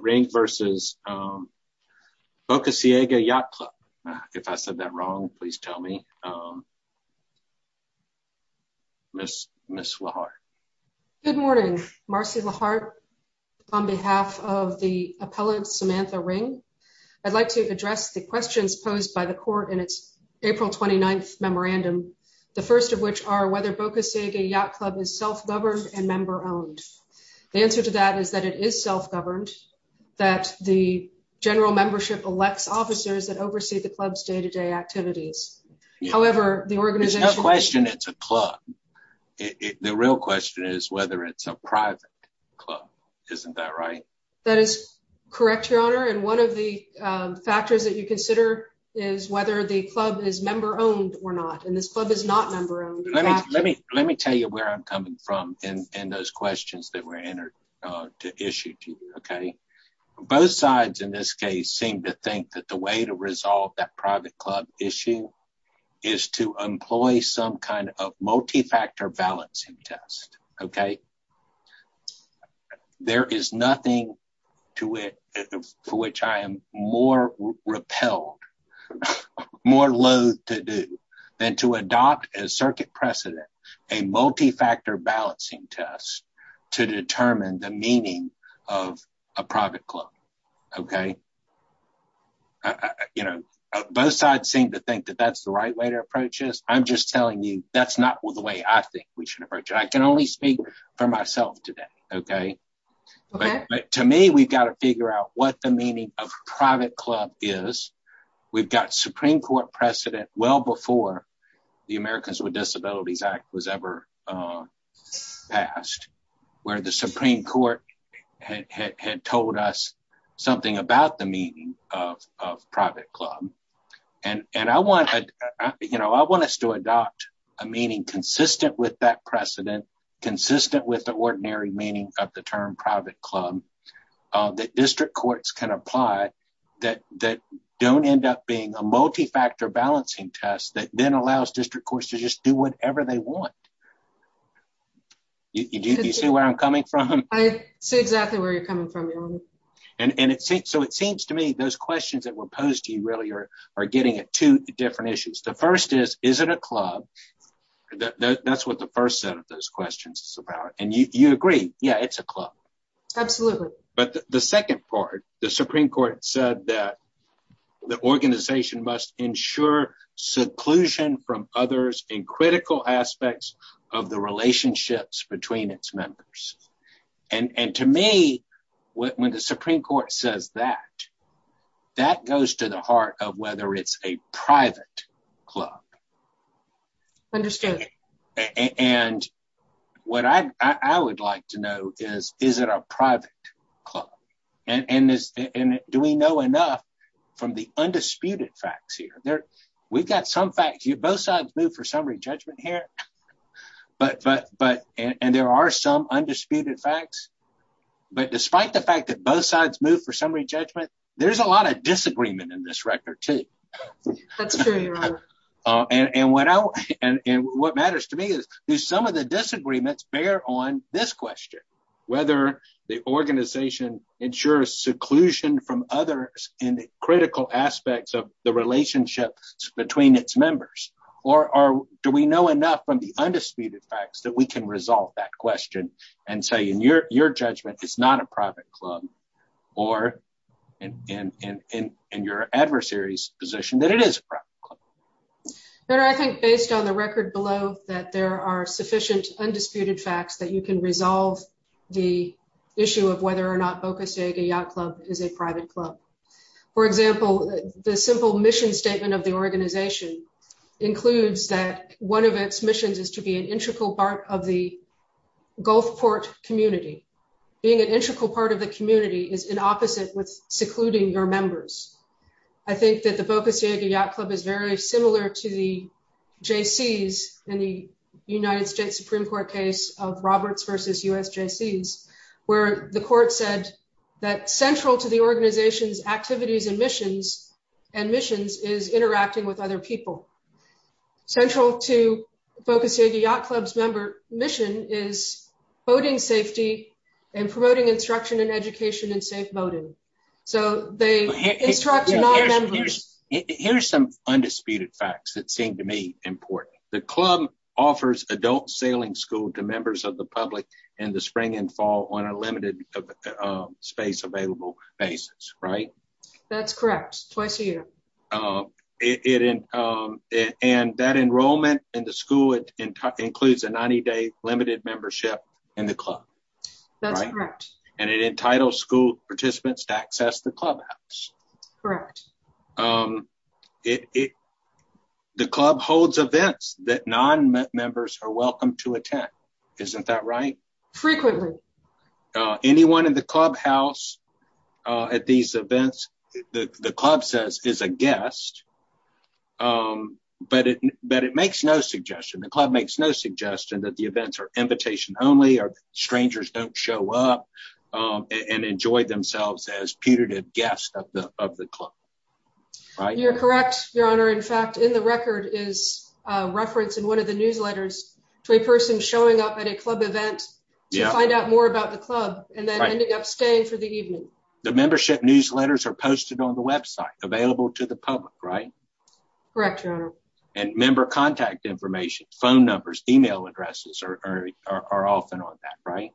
Ring v. Boca Ciega Yacht Club If I said that wrong, please tell me. Ms. LeHart. Good morning, Marcy LeHart. On behalf of the appellant, Samantha Ring, I'd like to address the questions posed by the court in its April 29th memorandum, the first of which are whether Boca Ciega Yacht Club is self-governed and member-owned. The answer to that is that it is self-governed, that the general membership elects officers that oversee the club's day-to-day activities. However, the organization— There's no question it's a club. The real question is whether it's a private club. Isn't that right? That is correct, Your Honor. And one of the factors that you consider is whether the club is member-owned or not. And this club is not member-owned. Let me tell you where I'm coming from in those questions that were entered to issue to you, okay? Both sides in this case seem to think that the way to resolve that private club issue is to employ some kind of multifactor balancing test, okay? There is nothing to it for which I am more repelled, more loathed to do, than to adopt as circuit precedent a multifactor balancing test to determine the meaning of a private club, okay? You know, both sides seem to think that that's the right way to approach this. I'm just telling you that's not the way I think we should approach it. I can only speak for myself today, okay? But to me, we've got to figure out what the meaning of private club is. We've got Supreme Court precedent well before the Americans with Disabilities Act was ever passed, where the Supreme Court had told us something about the meaning of private club. And I want us to adopt a meaning consistent with that precedent, consistent with the ordinary meaning of the term private club, that district courts can apply that don't end up being a multifactor balancing test that then allows district courts to just do whatever they want. Do you see where I'm coming from? I see exactly where you're coming from, Your Honor. So it seems to me those questions that were posed to you earlier are getting at two different issues. The first is, is it a club? That's what the first set of those questions is about. And you agree, yeah, it's a club. Absolutely. But the second part, the Supreme Court said that the organization must ensure seclusion from others in critical aspects of the relationships between its members. And to me, when the Supreme Court says that, that goes to the heart of whether it's a private club. Understood. And what I would like to know is, is it a private club? And do we know enough from the undisputed facts here? We've got some facts. Both sides move for summary judgment here. And there are some undisputed facts. But despite the fact that both sides move for summary judgment, there's a lot of disagreement in this record, too. That's true, Your Honor. And what matters to me is, do some of the disagreements bear on this question, whether the organization ensures seclusion from others in critical aspects of the relationships between its members? Or do we know enough from the undisputed facts that we can resolve that question and say, in your judgment, it's not a private club? Or in your adversary's position, that it is a private club? Your Honor, I think, based on the record below, that there are sufficient undisputed facts that you can resolve the issue of whether or not Boca Ciega Yacht Club is a private club. For example, the simple mission statement of the organization includes that one of its missions is to be an integral part of the Gulfport community. Being an integral part of the community is inopposite with secluding your members. I think that the Boca Ciega Yacht Club is very similar to the JCs in the United States Supreme Court case of Roberts v. USJCs, where the court said that central to the organization's activities and missions is interacting with other people. Central to Boca Ciega Yacht Club's mission is boating safety and promoting instruction and education and safe boating. Here are some undisputed facts that seem to me important. The club offers adult sailing school to members of the public in the spring and fall on a limited space available basis, right? That's correct. Twice a year. And that enrollment in the school includes a 90-day limited membership in the club. That's correct. And it entitles school participants to access the clubhouse. Correct. The club holds events that non-members are welcome to attend. Isn't that right? Frequently. Anyone in the clubhouse at these events, the club says, is a guest. But it makes no suggestion. The club makes no suggestion that the events are invitation only or strangers don't show up and enjoy themselves as putative guests of the club. You're correct, Your Honor. In fact, in the record is a reference in one of the newsletters to a person showing up at a club event to find out more about the club and then ending up staying for the evening. The membership newsletters are posted on the website available to the public, right? Correct, Your Honor. And member contact information, phone numbers, email addresses are often on that, right?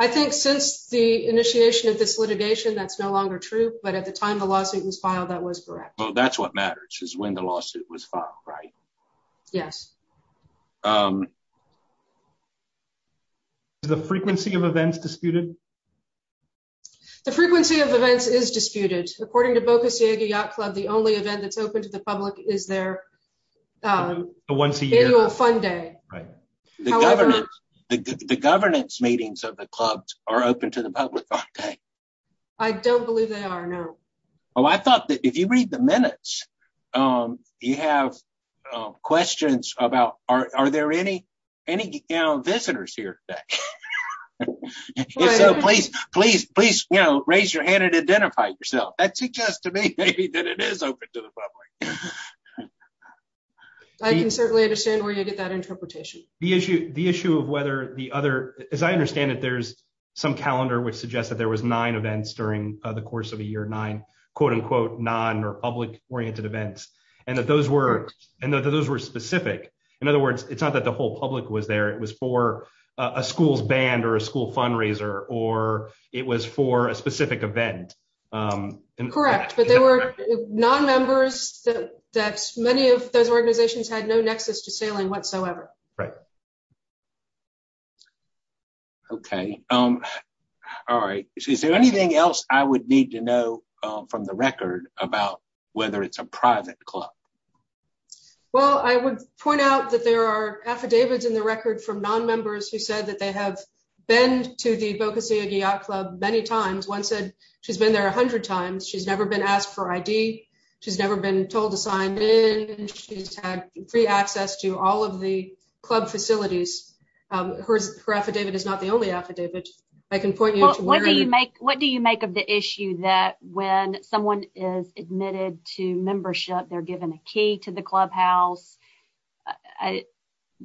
I think since the initiation of this litigation, that's no longer true. But at the time the lawsuit was filed, that was correct. Well, that's what matters is when the lawsuit was filed, right? Yes. The frequency of events disputed? The frequency of events is disputed. According to Boca Ciega Yacht Club, the only event that's open to the public is their annual fun day. The governance meetings of the clubs are open to the public, right? I don't believe they are, no. Oh, I thought that if you read the minutes, you have questions about are there any visitors here today? So please, please, please, you know, raise your hand and identify yourself. That suggests to me that it is open to the public. I can certainly understand where you get that interpretation. The issue of whether the other, as I understand it, there's some calendar which suggests that there was nine events during the course of a year, nine, quote unquote, non or public oriented events. And that those were specific. In other words, it's not that the whole public was there, it was for a school's band or a school fundraiser, or it was for a specific event. Correct. But they were non-members that many of those organizations had no nexus to sailing whatsoever. Right. OK. All right. Is there anything else I would need to know from the record about whether it's a private club? Well, I would point out that there are affidavits in the record from non-members who said that they have been to the Boca Ciega Yacht Club many times. One said she's been there a hundred times. She's never been asked for I.D. She's never been told to sign in. She's had free access to all of the club facilities. Her affidavit is not the only affidavit. I can point you to one. What do you make of the issue that when someone is admitted to membership, they're given a key to the clubhouse?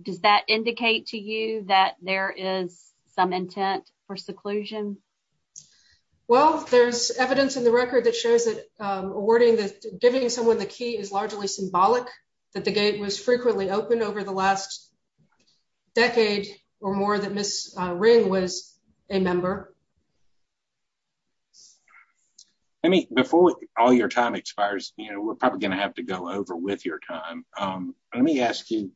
Does that indicate to you that there is some intent for seclusion? Well, there's evidence in the record that shows that awarding that giving someone the key is largely symbolic that the gate was frequently open over the last decade or more that Miss Ring was a member. Before all your time expires, we're probably going to have to go over with your time. Let me ask you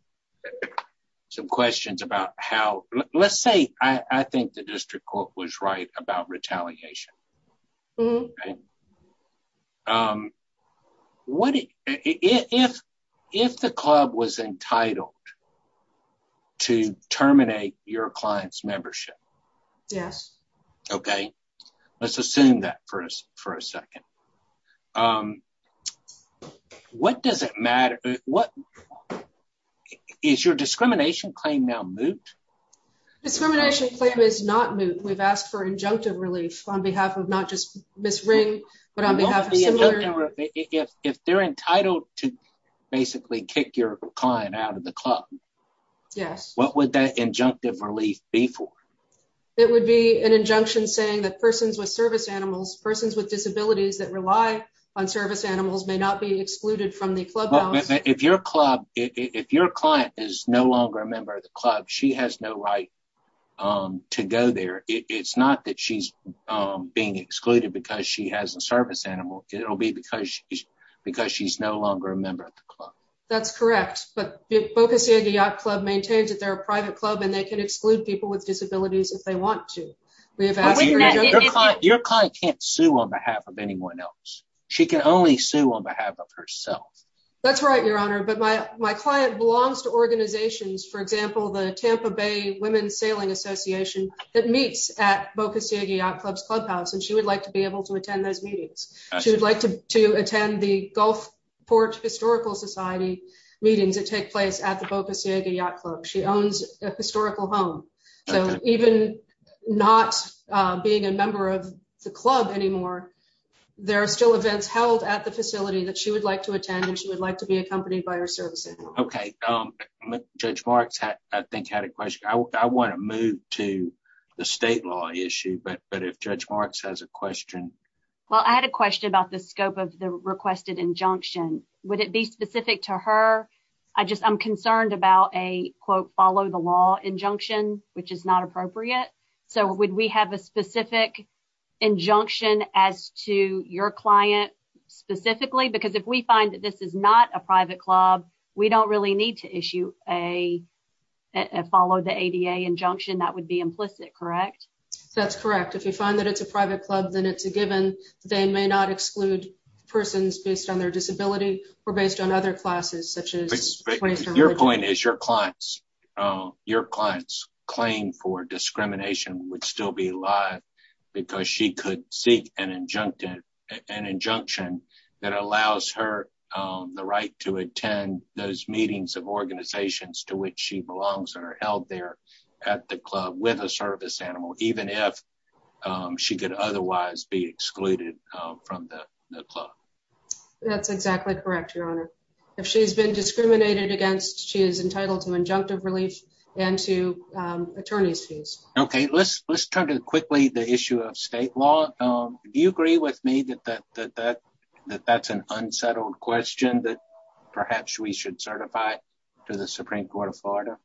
some questions about how let's say I think the district court was right about retaliation. What if if the club was entitled to terminate your client's membership? Yes. OK, let's assume that for us for a second. What does it matter? Is your discrimination claim now moot? Discrimination claim is not moot. We've asked for injunctive relief on behalf of not just Miss Ring, but on behalf of if they're entitled to basically kick your client out of the club. Yes. What would that injunctive relief be for? It would be an injunction saying that persons with service animals, persons with disabilities that rely on service animals may not be excluded from the clubhouse. If your club if your client is no longer a member of the club, she has no right to go there. It's not that she's being excluded because she has a service animal. It'll be because because she's no longer a member of the club. That's correct. But Boca Ciega Yacht Club maintains that they're a private club and they can exclude people with disabilities if they want to. Your client can't sue on behalf of anyone else. She can only sue on behalf of herself. That's right, Your Honor. But my my client belongs to organizations, for example, the Tampa Bay Women's Sailing Association that meets at Boca Ciega Yacht Club's clubhouse. And she would like to be able to attend those meetings. She would like to attend the Gulfport Historical Society meetings that take place at the Boca Ciega Yacht Club. She owns a historical home. So even not being a member of the club anymore, there are still events held at the facility that she would like to attend and she would like to be accompanied by her service animal. OK, Judge Marks, I think, had a question. I want to move to the state law issue. But but if Judge Marks has a question. Well, I had a question about the scope of the requested injunction. Would it be specific to her? I just I'm concerned about a, quote, follow the law injunction, which is not appropriate. So would we have a specific injunction as to your client specifically? Because if we find that this is not a private club, we don't really need to issue a follow the ADA injunction. That would be implicit, correct? That's correct. If you find that it's a private club, then it's a given. They may not exclude persons based on their disability or based on other classes, such as. Your point is your clients, your clients claim for discrimination would still be alive because she could seek an injunction, an injunction that allows her the right to attend those meetings of organizations to which she belongs or held there at the club with a service animal, even if she could otherwise be excluded from the club. That's exactly correct, Your Honor. If she's been discriminated against, she is entitled to injunctive relief and to attorney's fees. OK, let's let's turn to quickly the issue of state law. Do you agree with me that that that that that that's an unsettled question that perhaps we should certify to the Supreme Court of Florida?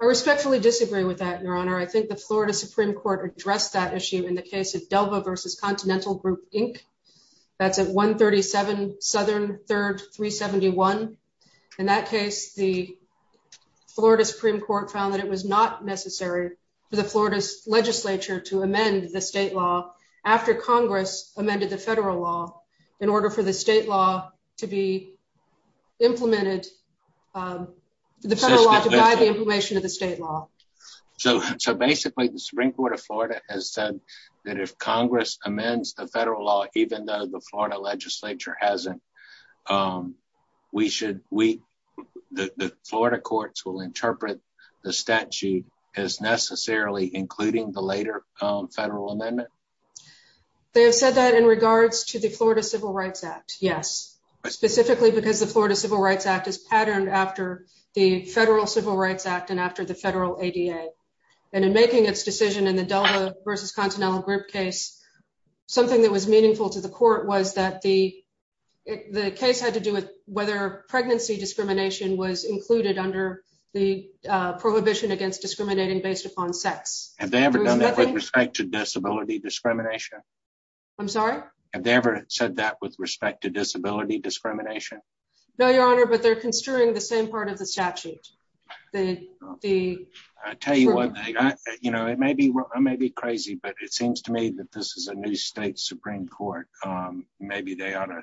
I respectfully disagree with that, Your Honor. I think the Florida Supreme Court addressed that issue in the case of Delva versus Continental Group Inc. That's at 137 Southern 3rd 371. In that case, the Florida Supreme Court found that it was not necessary for the Florida legislature to amend the state law after Congress amended the federal law in order for the state law to be implemented. The federal law to provide the information to the state law. So so basically, the Supreme Court of Florida has said that if Congress amends the federal law, even though the Florida legislature hasn't, we should we the Florida courts will interpret the statute as necessarily including the later federal amendment. They have said that in regards to the Florida Civil Rights Act. Yes, specifically because the Florida Civil Rights Act is patterned after the federal Civil Rights Act and after the federal ADA and in making its decision in the Delva versus Continental Group case, something that was meaningful to the court was that the the case had to do with whether pregnancy discrimination was included under the prohibition against discriminating based upon sex. Have they ever done that with respect to disability discrimination. I'm sorry. Have they ever said that with respect to disability discrimination. No, Your Honor, but they're considering the same part of the statute, the, the tell you what, you know, it may be, it may be crazy but it seems to me that this is a new state Supreme Court, maybe they ought to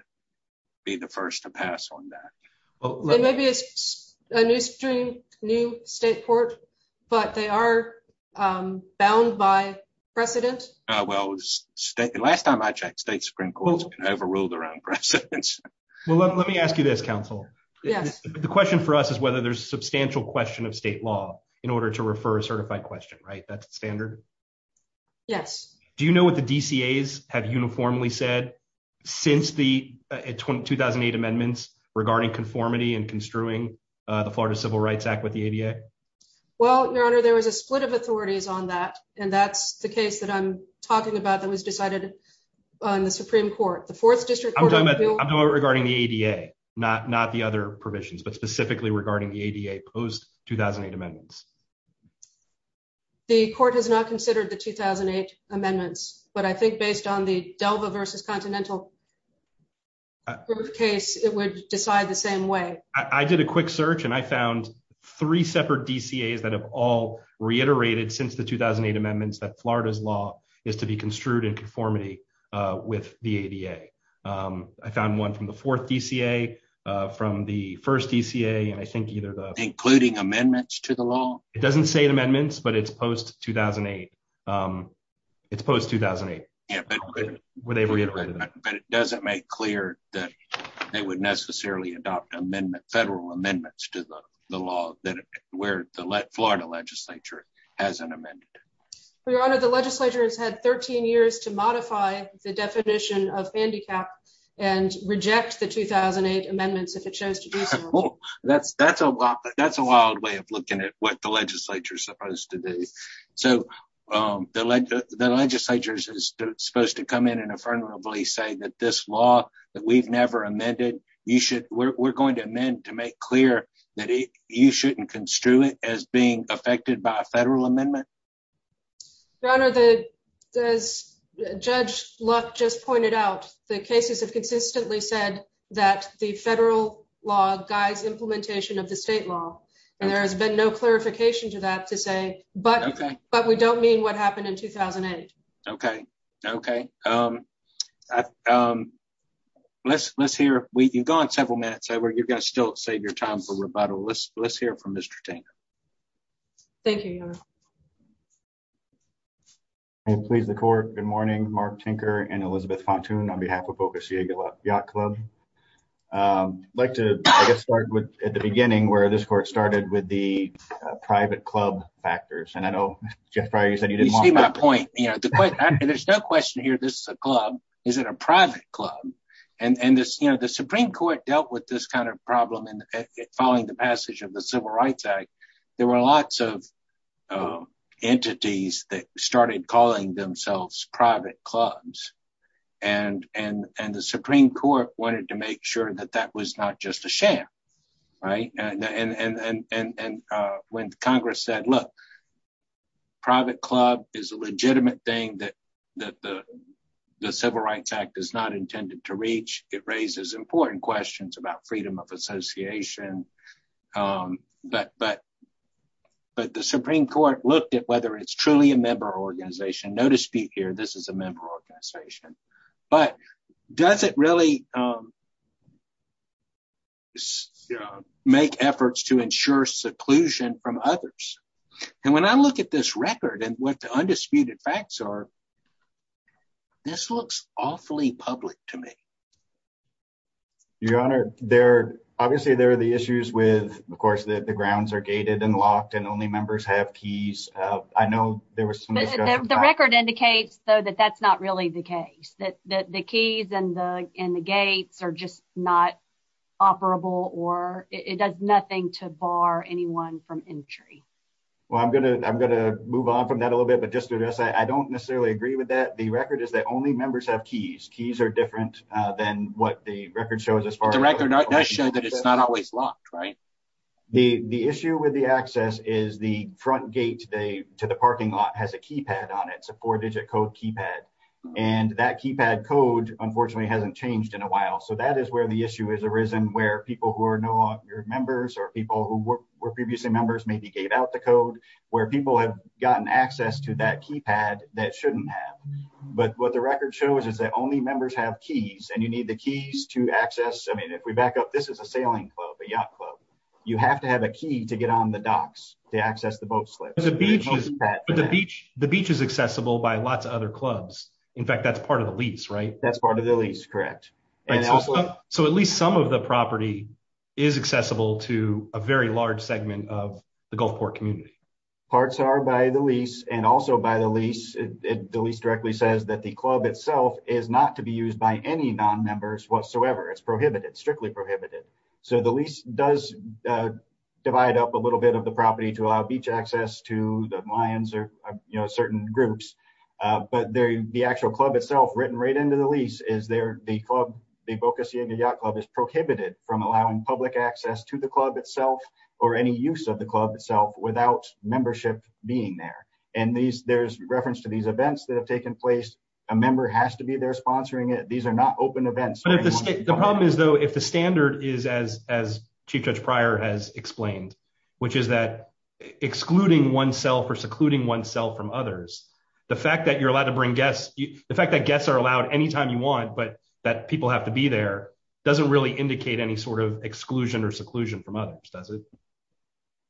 be the first to pass on that. Maybe it's a new stream new state court, but they are bound by precedent. Well, last time I checked state Supreme Court overruled around. Well, let me ask you this Council. Yes. The question for us is whether there's substantial question of state law, in order to refer a certified question right that's standard. Yes. Do you know what the DC is have uniformly said, since the 2008 amendments regarding conformity and construing the Florida Civil Rights Act with the ADA. Well, Your Honor, there was a split of authorities on that. And that's the case that I'm talking about that was decided on the Supreme Court, the fourth district regarding the ADA, not not the other provisions but specifically regarding the ADA post 2008 amendments. The court has not considered the 2008 amendments, but I think based on the Delva versus continental case, it would decide the same way, I did a quick search and I found three separate DC is that have all reiterated since the 2008 amendments that Florida's law is to be construed and conformity with the ADA. I found one from the fourth DCA from the first DCA and I think either the including amendments to the law, it doesn't say amendments but it's post 2008. It's post 2008. But it doesn't make clear that they would necessarily adopt amendment federal amendments to the law that where the Florida legislature has an amendment. Your Honor, the legislature has had 13 years to modify the definition of handicap and reject the 2008 amendments if it shows. That's, that's a, that's a wild way of looking at what the legislature is supposed to do. So, the legislature is supposed to come in and affirmably say that this law that we've never amended, you should, we're going to amend to make clear that you shouldn't construe it as being affected by a federal amendment. Your Honor, the judge luck just pointed out the cases have consistently said that the federal law guides implementation of the state law, and there has been no clarification to that to say, but, but we don't mean what happened in 2008. Okay. Okay. Um, um, let's let's hear, we can go on several minutes over you guys still save your time for rebuttal let's let's hear from Mr. Thank you. Please the court. Good morning, Mark Tinker and Elizabeth pontoon on behalf of focus your club. Like to start with, at the beginning where this court started with the private club factors and I know you said you didn't see my point, you know, there's no question here this club. Is it a private club, and this you know the Supreme Court dealt with this kind of problem and following the passage of the Civil Rights Act. There were lots of entities that started calling themselves private clubs and, and, and the Supreme Court wanted to make sure that that was not just a sham. Right. And when Congress said look private club is a legitimate thing that that the Civil Rights Act is not intended to reach it raises important questions about freedom of association. But, but, but the Supreme Court looked at whether it's truly a member organization notice be here this is a member organization, but does it really. Make efforts to ensure seclusion from others. And when I look at this record and what the undisputed facts are. This looks awfully public to me. Your Honor, they're obviously there are the issues with, of course, the grounds are gated and locked and only members have keys. I know there was the record indicates though that that's not really the case that the keys and the, and the gates are just not operable or it does nothing to bar anyone from entry. Well, I'm going to, I'm going to move on from that a little bit but just address I don't necessarily agree with that the record is that only members have keys keys are different than what the record shows as far as the record does show that it's not always locked right. The, the issue with the access is the front gate, they to the parking lot has a keypad on it's a four digit code keypad, and that keypad code, unfortunately hasn't changed in a while so that is where the issue is arisen where people who are no longer members or people who were previously members maybe gave out the code where people have gotten access to that keypad, that shouldn't have. But what the record shows is that only members have keys and you need the keys to access I mean if we back up this is a sailing club a yacht club, you have to have a key to get on the docks to access the boat slips a beach is that the beach, the beach is accessible by lots of other clubs. In fact, that's part of the lease right that's part of the lease correct. So at least some of the property is accessible to a very large segment of the Gulfport community parts are by the lease and also by the lease, the lease directly says that the club itself is not to be used by any non members whatsoever it's prohibited strictly prohibited. So the lease does divide up a little bit of the property to allow beach access to the lions or, you know, certain groups. But there, the actual club itself written right into the lease is there, the club, the focus in the yacht club is prohibited from allowing public access to the club itself, or any use of the club itself without membership, being there. And these there's reference to these events that have taken place, a member has to be there sponsoring it these are not open events. The problem is though if the standard is as as Chief Judge prior has explained, which is that excluding oneself or secluding oneself from others. The fact that you're allowed to bring guests, the fact that guests are allowed anytime you want but that people have to be there doesn't really indicate any sort of exclusion or seclusion from others does it.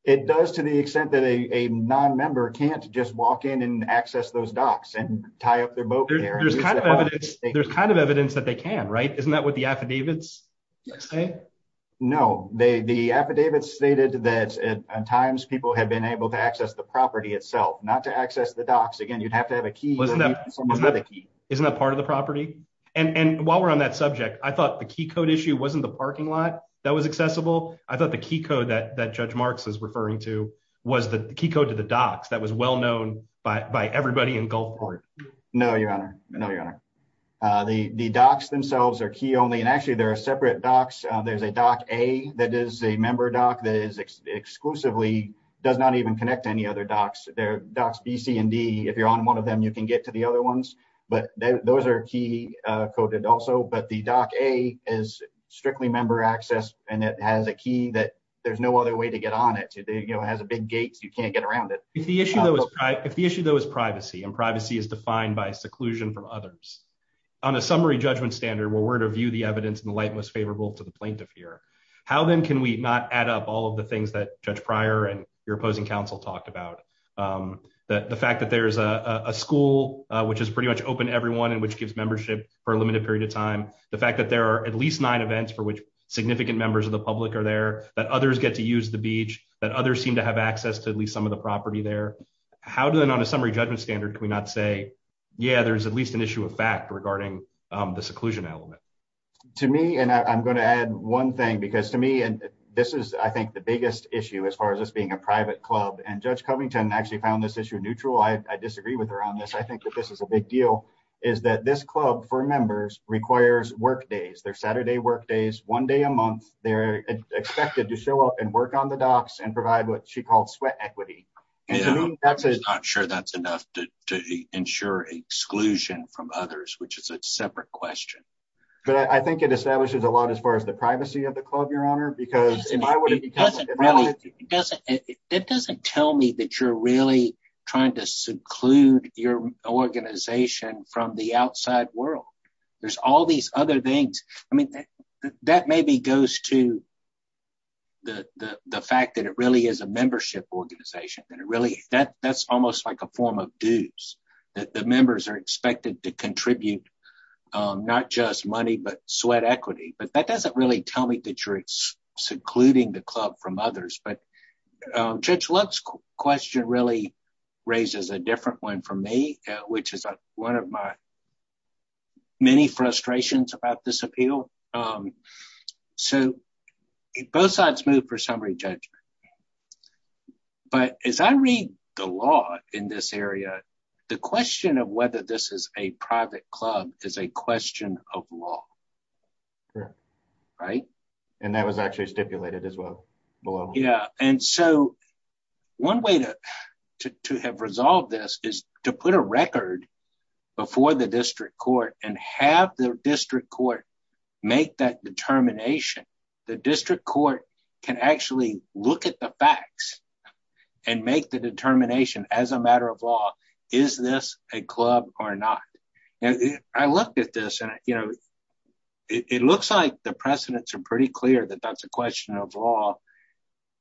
It does to the extent that a non member can't just walk in and access those docs and tie up their boat. There's kind of evidence that they can right isn't that what the affidavits. No, they the affidavits stated that at times people have been able to access the property itself, not to access the docs again you'd have to have a key. Isn't that part of the property. And while we're on that subject, I thought the key code issue wasn't the parking lot that was accessible. I thought the key code that that Judge Marx is referring to was the key code to the docs that was well known by everybody in Gulfport. No, Your Honor. No, Your Honor. The docs themselves are key only and actually there are separate docs, there's a doc a that is a member doc that is exclusively does not even connect to any other docs their docs BC and D if you're on one of them you can get to the other ones, but those are key coded also but the doc a is strictly member access, and it has a key that there's no other way to get on it to the, you know, has a big gates you can't get around it. If the issue though is privacy and privacy is defined by seclusion from others on a summary judgment standard where we're to view the evidence in the light most favorable to the plaintiff here. How then can we not add up all of the things that judge prior and your opposing counsel talked about the fact that there's a school, which is pretty much open everyone and which gives membership for a limited period of time. The fact that there are at least nine events for which significant members of the public are there that others get to use the beach that others seem to have access to at least some of the property there. How do then on a summary judgment standard can we not say, yeah, there's at least an issue of fact regarding the seclusion element to me and I'm going to add one thing because to me and this is I think the biggest issue as far as this being a requires work days their Saturday work days, one day a month, they're expected to show up and work on the docks and provide what she called sweat equity. That's it. I'm sure that's enough to ensure exclusion from others which is a separate question, but I think it establishes a lot as far as the privacy of the club your honor because it doesn't really doesn't. It doesn't tell me that you're really trying to seclude your organization from the outside world. There's all these other things. I mean, that maybe goes to the fact that it really is a membership organization that it really that that's almost like a form of dues that the members are expected to contribute. Not just money but sweat equity, but that doesn't really tell me that you're excluding the club from others but judge let's question really raises a different one for me, which is one of my many frustrations about this appeal. So, both sides move for summary judgment. But as I read the law in this area. The question of whether this is a private club is a question of law. Right. And that was actually stipulated as well. Yeah. And so, one way to have resolved this is to put a record before the district court and have the district court, make that determination, the district court can actually look at the facts and make the determination as a matter of law. Is this a club or not. And I looked at this and, you know, it looks like the precedents are pretty clear that that's a question of law,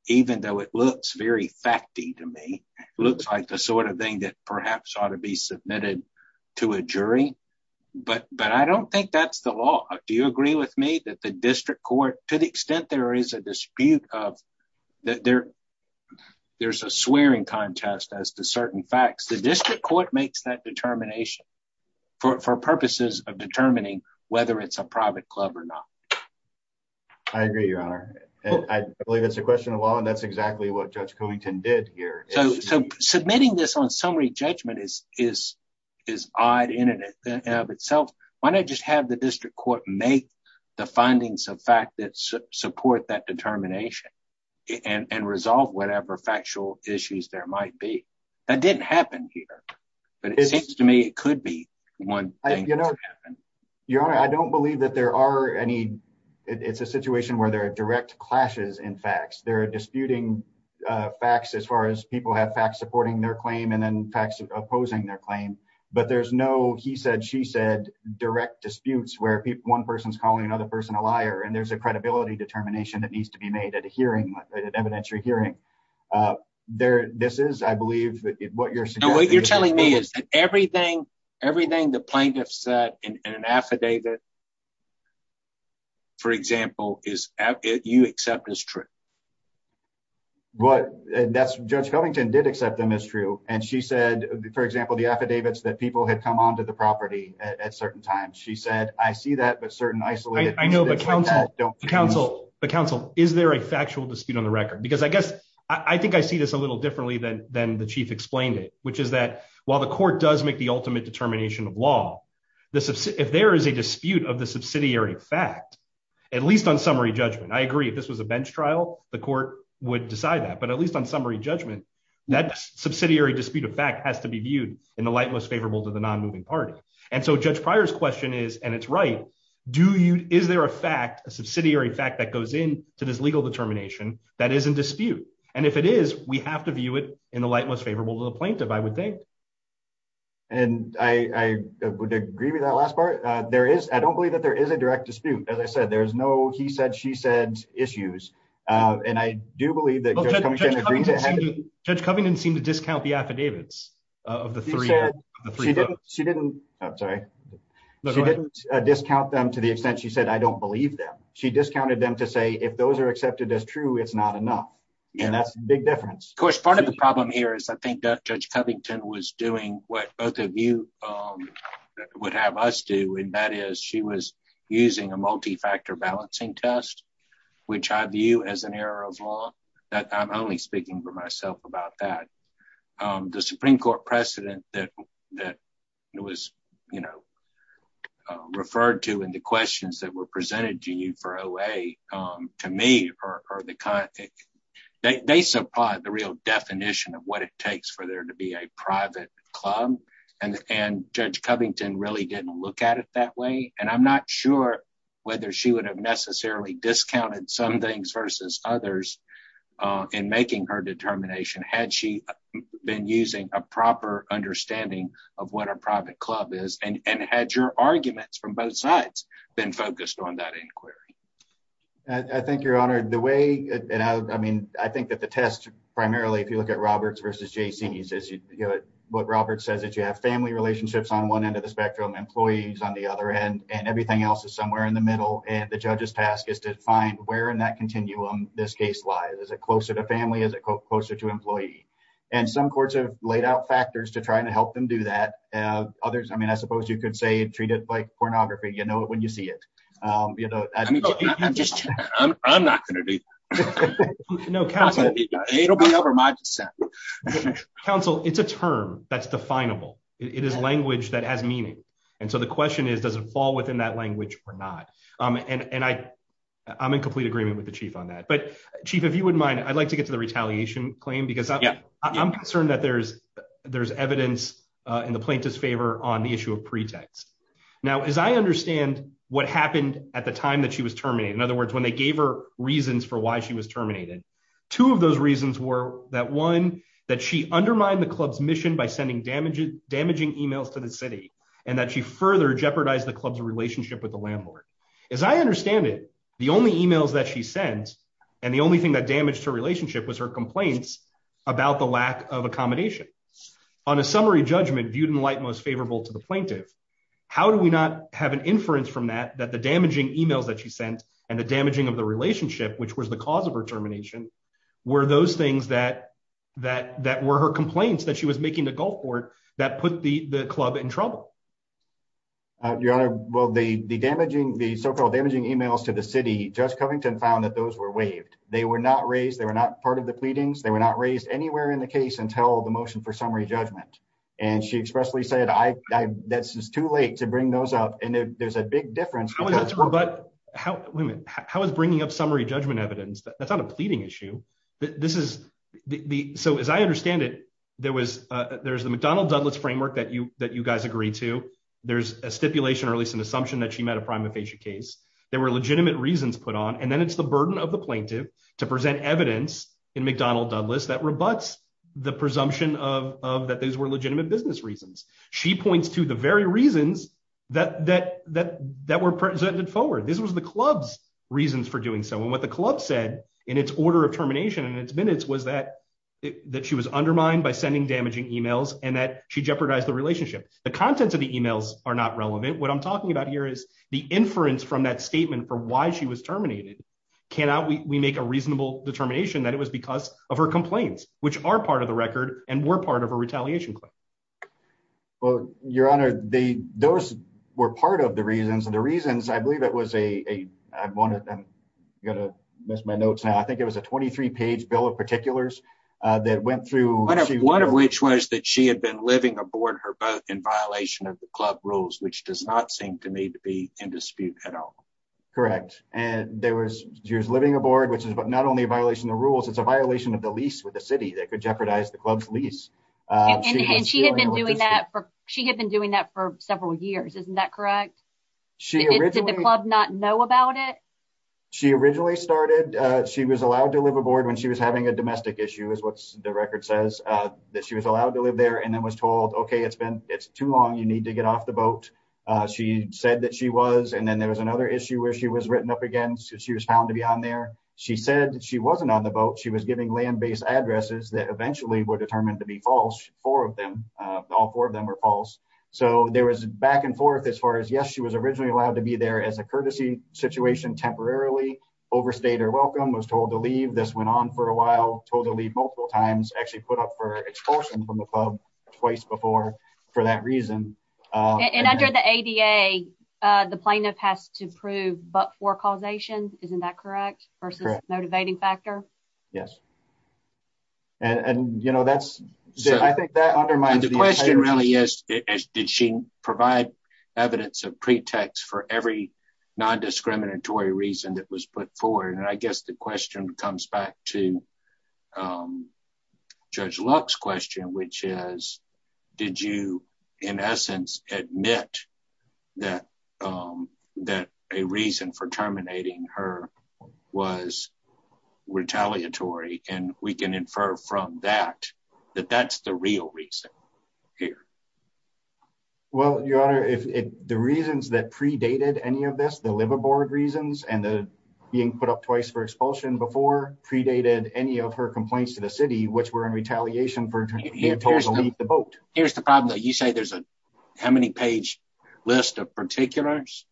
even though it looks very fact to me, looks like the sort of thing that perhaps ought to be submitted to a jury, but but I don't think that's the law. Do you agree with me that the district court, to the extent there is a dispute of that there. There's a swearing contest as to certain facts the district court makes that determination for purposes of determining whether it's a private club or not. I agree, Your Honor. I believe it's a question of law and that's exactly what Judge Covington did here. So submitting this on summary judgment is is is odd in and of itself. Why not just have the district court make the findings of fact that support that determination and resolve whatever factual issues there might be. That didn't happen here. But it seems to me it could be one. You know, Your Honor, I don't believe that there are any. It's a situation where there are direct clashes in facts there are disputing facts as far as people have facts supporting their claim and then facts opposing their claim, but there's no he said she said direct disputes where people one person's calling another person a liar and there's a credibility determination that needs to be made at a hearing an evidentiary hearing there. This is I believe that what you're saying what you're telling me is that everything, everything the plaintiff said in an affidavit. For example, is it you accept is true. What that's Judge Covington did accept them as true, and she said, for example, the affidavits that people had come on to the property at certain times she said, I see that but certain isolated. I know the council, the council, the council, is there a factual dispute on the record because I guess I think I see this a little differently than, than the chief explained it, which is that while the court does make the ultimate determination of law. This is, if there is a dispute of the subsidiary fact, at least on summary judgment I agree this was a bench trial, the court would decide that but at least on summary judgment that subsidiary dispute of fact has to be viewed in the light most favorable to the non moving party. And so Judge Pryor's question is, and it's right. Do you, is there a fact a subsidiary fact that goes in to this legal determination that isn't dispute, and if it is, we have to view it in the light most favorable to the plaintiff I would think. And I would agree with that last part, there is, I don't believe that there is a direct dispute, as I said, there's no he said she said issues. And I do believe that judge Covington seem to discount the affidavits of the three. She didn't. I'm sorry. Discount them to the extent she said I don't believe that she discounted them to say if those are accepted as true it's not enough. And that's a big difference, of course, part of the problem here is I think that judge Covington was doing what both of you would have us do and that is she was using a multi factor balancing test, which I view as an error of law that I'm only speaking for myself about that. The Supreme Court precedent that that was, you know, referred to in the questions that were presented to you for away. To me, or the kind that they supply the real definition of what it takes for there to be a private club and and judge Covington really didn't look at it that way, and I'm not sure whether she would have necessarily discounted some things versus others. In making her determination had she been using a proper understanding of what a private club is and had your arguments from both sides, then focused on that inquiry. I think your honor the way, and I mean, I think that the test, primarily if you look at Roberts versus JC says you know what Robert says that you have family relationships on one end of the spectrum employees on the other end, and everything else is somewhere in the middle, and the judges task is to find where in that continuum, this case lies as a closer to family as a closer to employee, and some courts have laid out factors to try and help them do that. Others I mean I suppose you could say treat it like pornography you know when you see it. I mean, I'm just, I'm not going to be no council, it'll be over my consent. Council, it's a term that's definable, it is language that has meaning. And so the question is, does it fall within that language or not. And I, I'm in complete agreement with the chief on that but chief if you wouldn't mind, I'd like to get to the retaliation claim because I'm concerned that there's, there's evidence in the plaintiff's favor on the issue of pretext. Now as I understand what happened at the time that she was terminated in other words when they gave her reasons for why she was terminated. Two of those reasons were that one that she undermined the club's mission by sending damaging damaging emails to the city, and that she further jeopardize the club's relationship with the landlord. As I understand it, the only emails that she sends. And the only thing that damaged her relationship was her complaints about the lack of accommodation on a summary judgment viewed in light most favorable to the plaintiff. How do we not have an inference from that that the damaging emails that she sent, and the damaging of the relationship which was the cause of her termination were those things that that that were her complaints that she was making the Gulfport that put the the club in trouble. Your Honor, well the damaging the so called damaging emails to the city just coming to and found that those were waived, they were not raised they were not part of the pleadings they were not raised anywhere in the case until the motion for summary judgment, and she expressly said I, that's just too late to bring those up and there's a big difference. But how women, how is bringing up summary judgment evidence that's not a pleading issue that this is the so as I understand it, there was, there's the McDonald Douglas framework that you that you guys agree to. There's a stipulation or at least an assumption that she met a prima facie case, there were legitimate reasons put on and then it's the burden of the plaintiff to present evidence in McDonald Douglas that rebuts the presumption of that these were legitimate business reasons, she points to the very reasons that that that that were presented forward this was the club's reasons for doing so and what the club said in its order of termination and it's minutes was that that she was undermined by sending damaging emails, and that she jeopardize the relationship, the contents of the emails are not relevant what I'm talking about here is the inference from that statement for why she was terminated. Cannot we make a reasonable determination that it was because of her complaints, which are part of the record, and we're part of a retaliation. Well, Your Honor, the, those were part of the reasons and the reasons I believe it was a one of them. You're going to miss my notes now I think it was a 23 page bill of particulars that went through, one of which was that she had been living aboard her in violation of the club rules which does not seem to me to be in dispute at all. Correct. And there was years living aboard which is not only a violation of rules it's a violation of the lease with the city that could jeopardize the club's lease. And she had been doing that for she had been doing that for several years isn't that correct. Not know about it. She originally started. She was allowed to live aboard when she was having a domestic issue is what's the record says that she was allowed to live there and then was told okay it's been, it's too long you need to get off the boat. She said that she was and then there was another issue where she was written up against she was found to be on there. She said she wasn't on the boat she was giving land based addresses that eventually were determined to be false, four of them. All four of them are false. So there was back and forth as far as yes she was originally allowed to be there as a courtesy situation temporarily overstayed her welcome was told to leave this went on for a while totally multiple times actually put up for twice before. For that reason, and under the ADA. The plaintiff has to prove but for causation, isn't that correct versus motivating factor. Yes. And you know that's, I think that undermines the question really is, did she provide evidence of pretext for every non discriminatory reason that was put forward and I guess the question comes back to judge Lux question which is, did you, in essence, admit that that a reason for terminating her was retaliatory, and we can infer from that, that that's the real reason here. Well, your honor if the reasons that predated any of this the liver board reasons and the being put up twice for expulsion before predated any of her complaints to the city which were in retaliation for the boat. Here's the problem that you say there's a how many page list of particulars.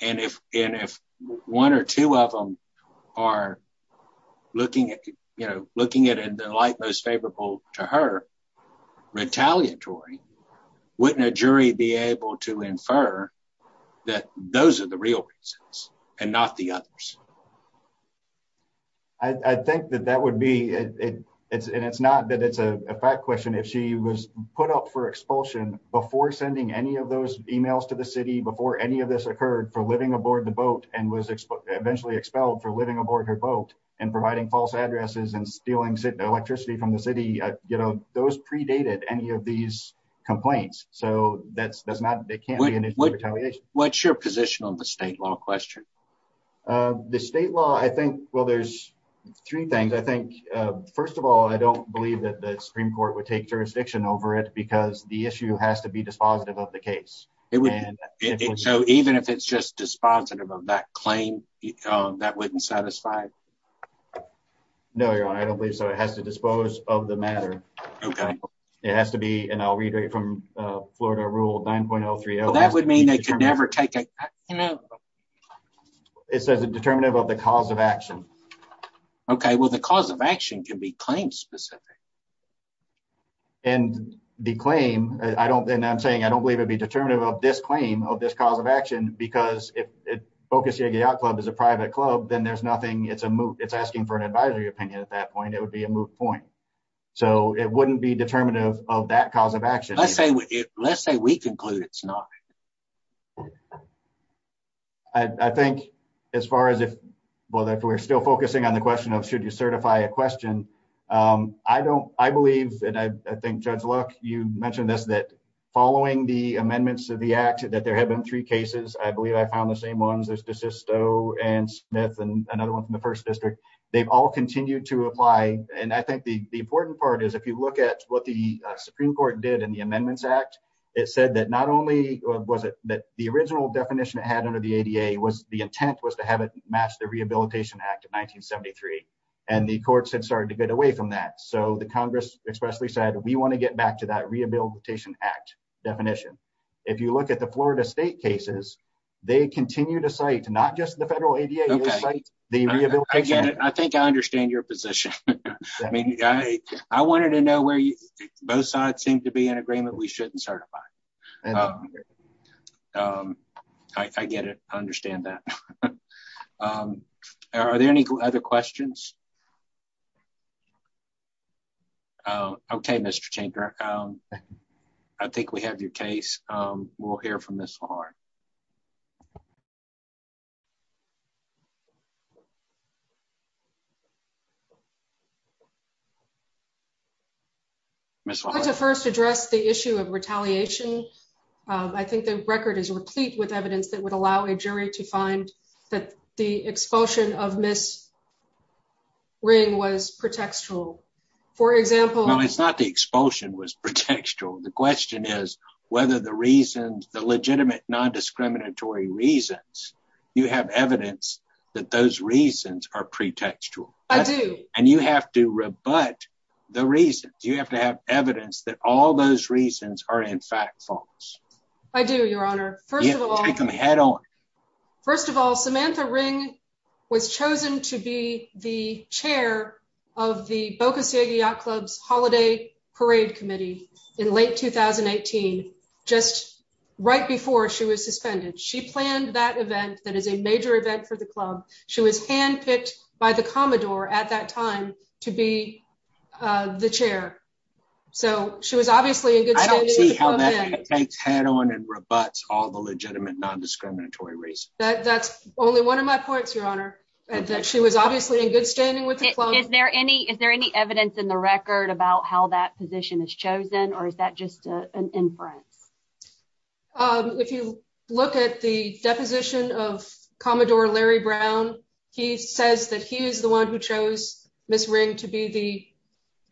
And if, and if one or two of them are looking at, you know, looking at and the light most favorable to her retaliatory wouldn't a jury be able to infer that those are the real reasons, and not the others. I think that that would be it. It's and it's not that it's a fact question if she was put up for expulsion before sending any of those emails to the city before any of this occurred for living aboard the boat and was eventually expelled for living aboard her boat and providing false addresses and stealing electricity from the city, you know, those predated any of these complaints, so that's that's not they can't. What's your position on the state law question. The state law I think, well there's three things I think. First of all, I don't believe that the Supreme Court would take jurisdiction over it because the issue has to be dispositive of the case, it would. So even if it's just dispositive of that claim that wouldn't satisfy. No, I don't believe so it has to dispose of the matter. Okay. It has to be and I'll read it from Florida rule 9.030 that would mean they could never take it. It says a determinative of the cause of action. Okay, well the cause of action can be claimed specific. And the claim, I don't think I'm saying I don't believe it'd be determinative of this claim of this cause of action, because if it focuses out club is a private club then there's nothing it's a move, it's asking for an advisory opinion at that point it would be a move point. So, it wouldn't be determinative of that cause of action, let's say, let's say we conclude it's not. I think, as far as if we're still focusing on the question of should you certify a question. I don't, I believe, and I think Judge luck, you mentioned this that following the amendments to the act that there have been three cases I believe I found the same ones there's just so and Smith and another one from the first district. They've all continued to apply, and I think the important part is if you look at what the Supreme Court did and the amendments act. It said that not only was it that the original definition it had under the ADA was the intent was to have it match the rehabilitation act of 1973, and the courts and started to get away from that so the Congress expressly said we want to get back to that rehabilitation act definition. If you look at the Florida State cases, they continue to say to not just the federal ADA. Again, I think I understand your position. I mean, I, I wanted to know where you both sides seem to be in agreement we shouldn't certify. I get it. I understand that. Are there any other questions. Okay, Mr. I think we have your case. We'll hear from this hard to first address the issue of retaliation. I think the record is replete with evidence that would allow a jury to find that the expulsion of Miss ring was pretextual. For example, it's not the expulsion was pretextual the question is whether the reasons the legitimate non discriminatory reasons, you have evidence that those reasons are pretextual. I do, and you have to rebut the reasons you have to have evidence that all those reasons are in fact false. I do, Your Honor, first of all, come head on. First of all, Samantha ring was chosen to be the chair of the Boca Ciega clubs holiday parade committee in late 2018, just right before she was suspended she planned that event that is a major event for the club. She was handpicked by the Commodore at that time to be the chair. So, she was obviously a good head on and rebut all the legitimate non discriminatory reason that that's only one of my points Your Honor, and that she was obviously in good standing with. Is there any is there any evidence in the record about how that position is chosen or is that just an inference. If you look at the deposition of Commodore Larry Brown, he says that he is the one who chose Miss ring to be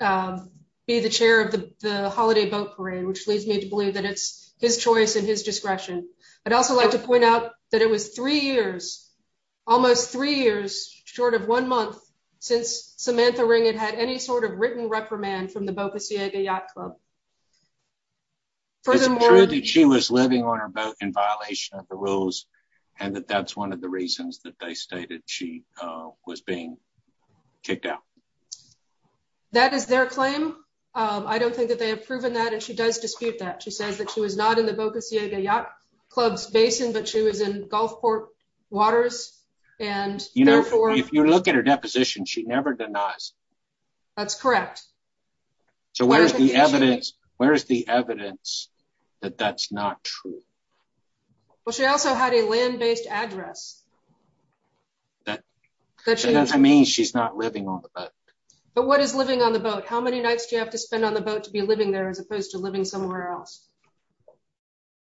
the, be the chair of the holiday boat parade which leads me to believe that it's his choice and his discretion, but also like to point out that it was three years, almost three years, short of one month since Samantha ring it had any sort of written reprimand from the Boca Ciega yacht club. Furthermore, she was living on her boat in violation of the rules, and that that's one of the reasons that they stated she was being kicked out. That is their claim. I don't think that they have proven that and she does dispute that she says that she was not in the Boca Ciega yacht clubs basin but she was in Gulfport waters, and, you know, if you look at her deposition she never denies. That's correct. So where's the evidence, where's the evidence that that's not true. Well, she also had a land based address that means she's not living on the boat. But what is living on the boat how many nights do you have to spend on the boat to be living there as opposed to living somewhere else.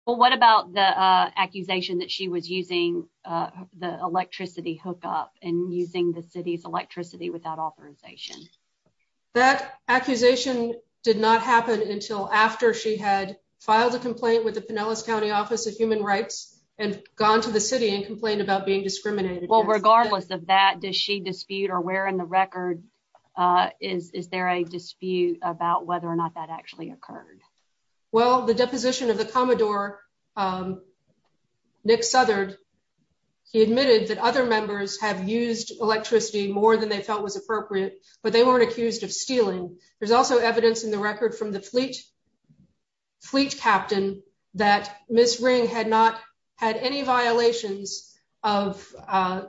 Well, what about the accusation that she was using the electricity hook up and using the city's electricity without authorization that accusation did not happen until after she had filed a complaint with the Pinellas County Office of Human Rights and gone to the city and complained about being discriminated well regardless of that does she dispute or where in the record. Is there a dispute about whether or not that actually occurred. Well, the deposition of the Commodore Nick Southern admitted that other members have used electricity more than they felt was appropriate, but they weren't accused of stealing. There's also evidence in the record from the fleet fleet captain that Miss ring had not had any violations of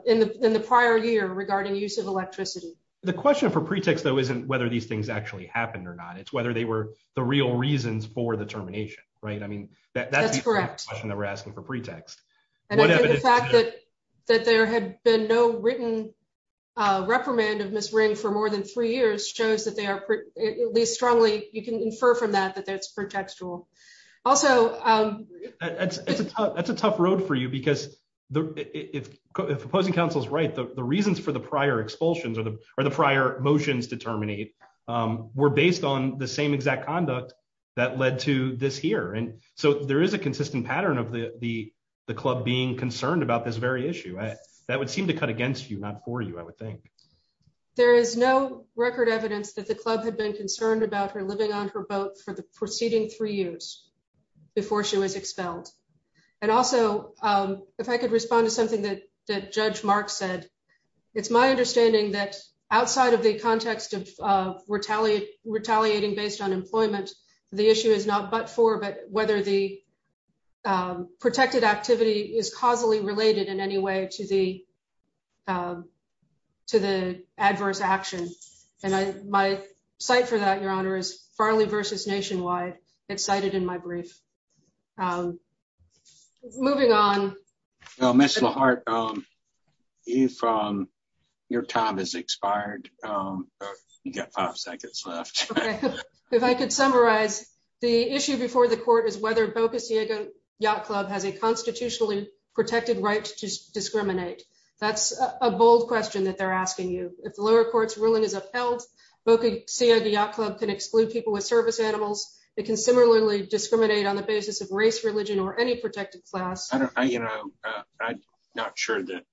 in the, in the prior year regarding use of electricity. The question for pretext though isn't whether these things actually happened or not it's whether they were the real reasons for the termination. Right. I mean, that's correct. That's the question that we're asking for pretext, whatever the fact that that there had been no written reprimand of Miss ring for more than three years shows that they are at least strongly, you can infer from that that that's contextual. Also, that's, that's a tough road for you because the opposing counsels right the reasons for the prior expulsions or the, or the prior motions to terminate were based on the same exact conduct that led to this here and so there is a consistent pattern of the, the, the club being concerned about this very issue that would seem to cut against you not for you, I would think. There is no record evidence that the club had been concerned about her living on her boat for the preceding three years before she was expelled. And also, if I could respond to something that that Judge Mark said it's my understanding that outside of the context of retaliate retaliating based on employment. The issue is not but for but whether the protected activity is causally related in any way to the, to the adverse action. And I, my site for that your honor is Farley versus nationwide excited in my brief. Moving on. Mr Hart. If your time is expired. You got five seconds left. If I could summarize the issue before the court is whether bogus Diego yacht club has a constitutionally protected right to discriminate. That's a bold question that they're asking you, if the lower courts ruling is upheld. Okay, see the club can exclude people with service animals. It can similarly discriminate on the basis of race, religion or any protected class, you know, not sure that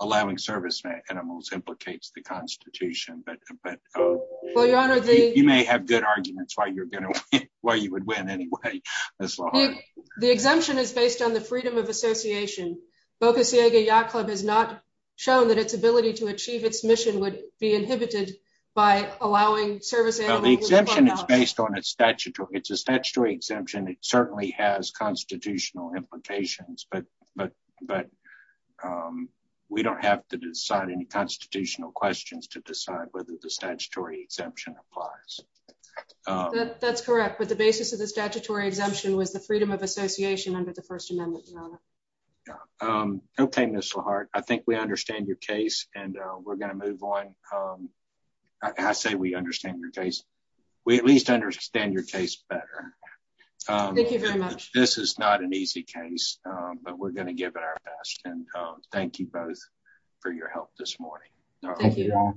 allowing service animals implicates the Constitution, but, but you may have good arguments why you're going to win anyway. The exemption is based on the freedom of association bogus Diego yacht club has not shown that its ability to achieve its mission would be inhibited by allowing service. The exemption is based on a statute or it's a statutory exemption it certainly has constitutional implications but but but we don't have to decide any constitutional questions to decide whether the statutory exemption applies. That's correct but the basis of the statutory exemption was the freedom of association under the First Amendment. Okay, Mr Hart, I think we understand your case, and we're going to move on. I say we understand your case, we at least understand your case better. This is not an easy case, but we're going to give it our best and thank you both for your help this morning. Thank you.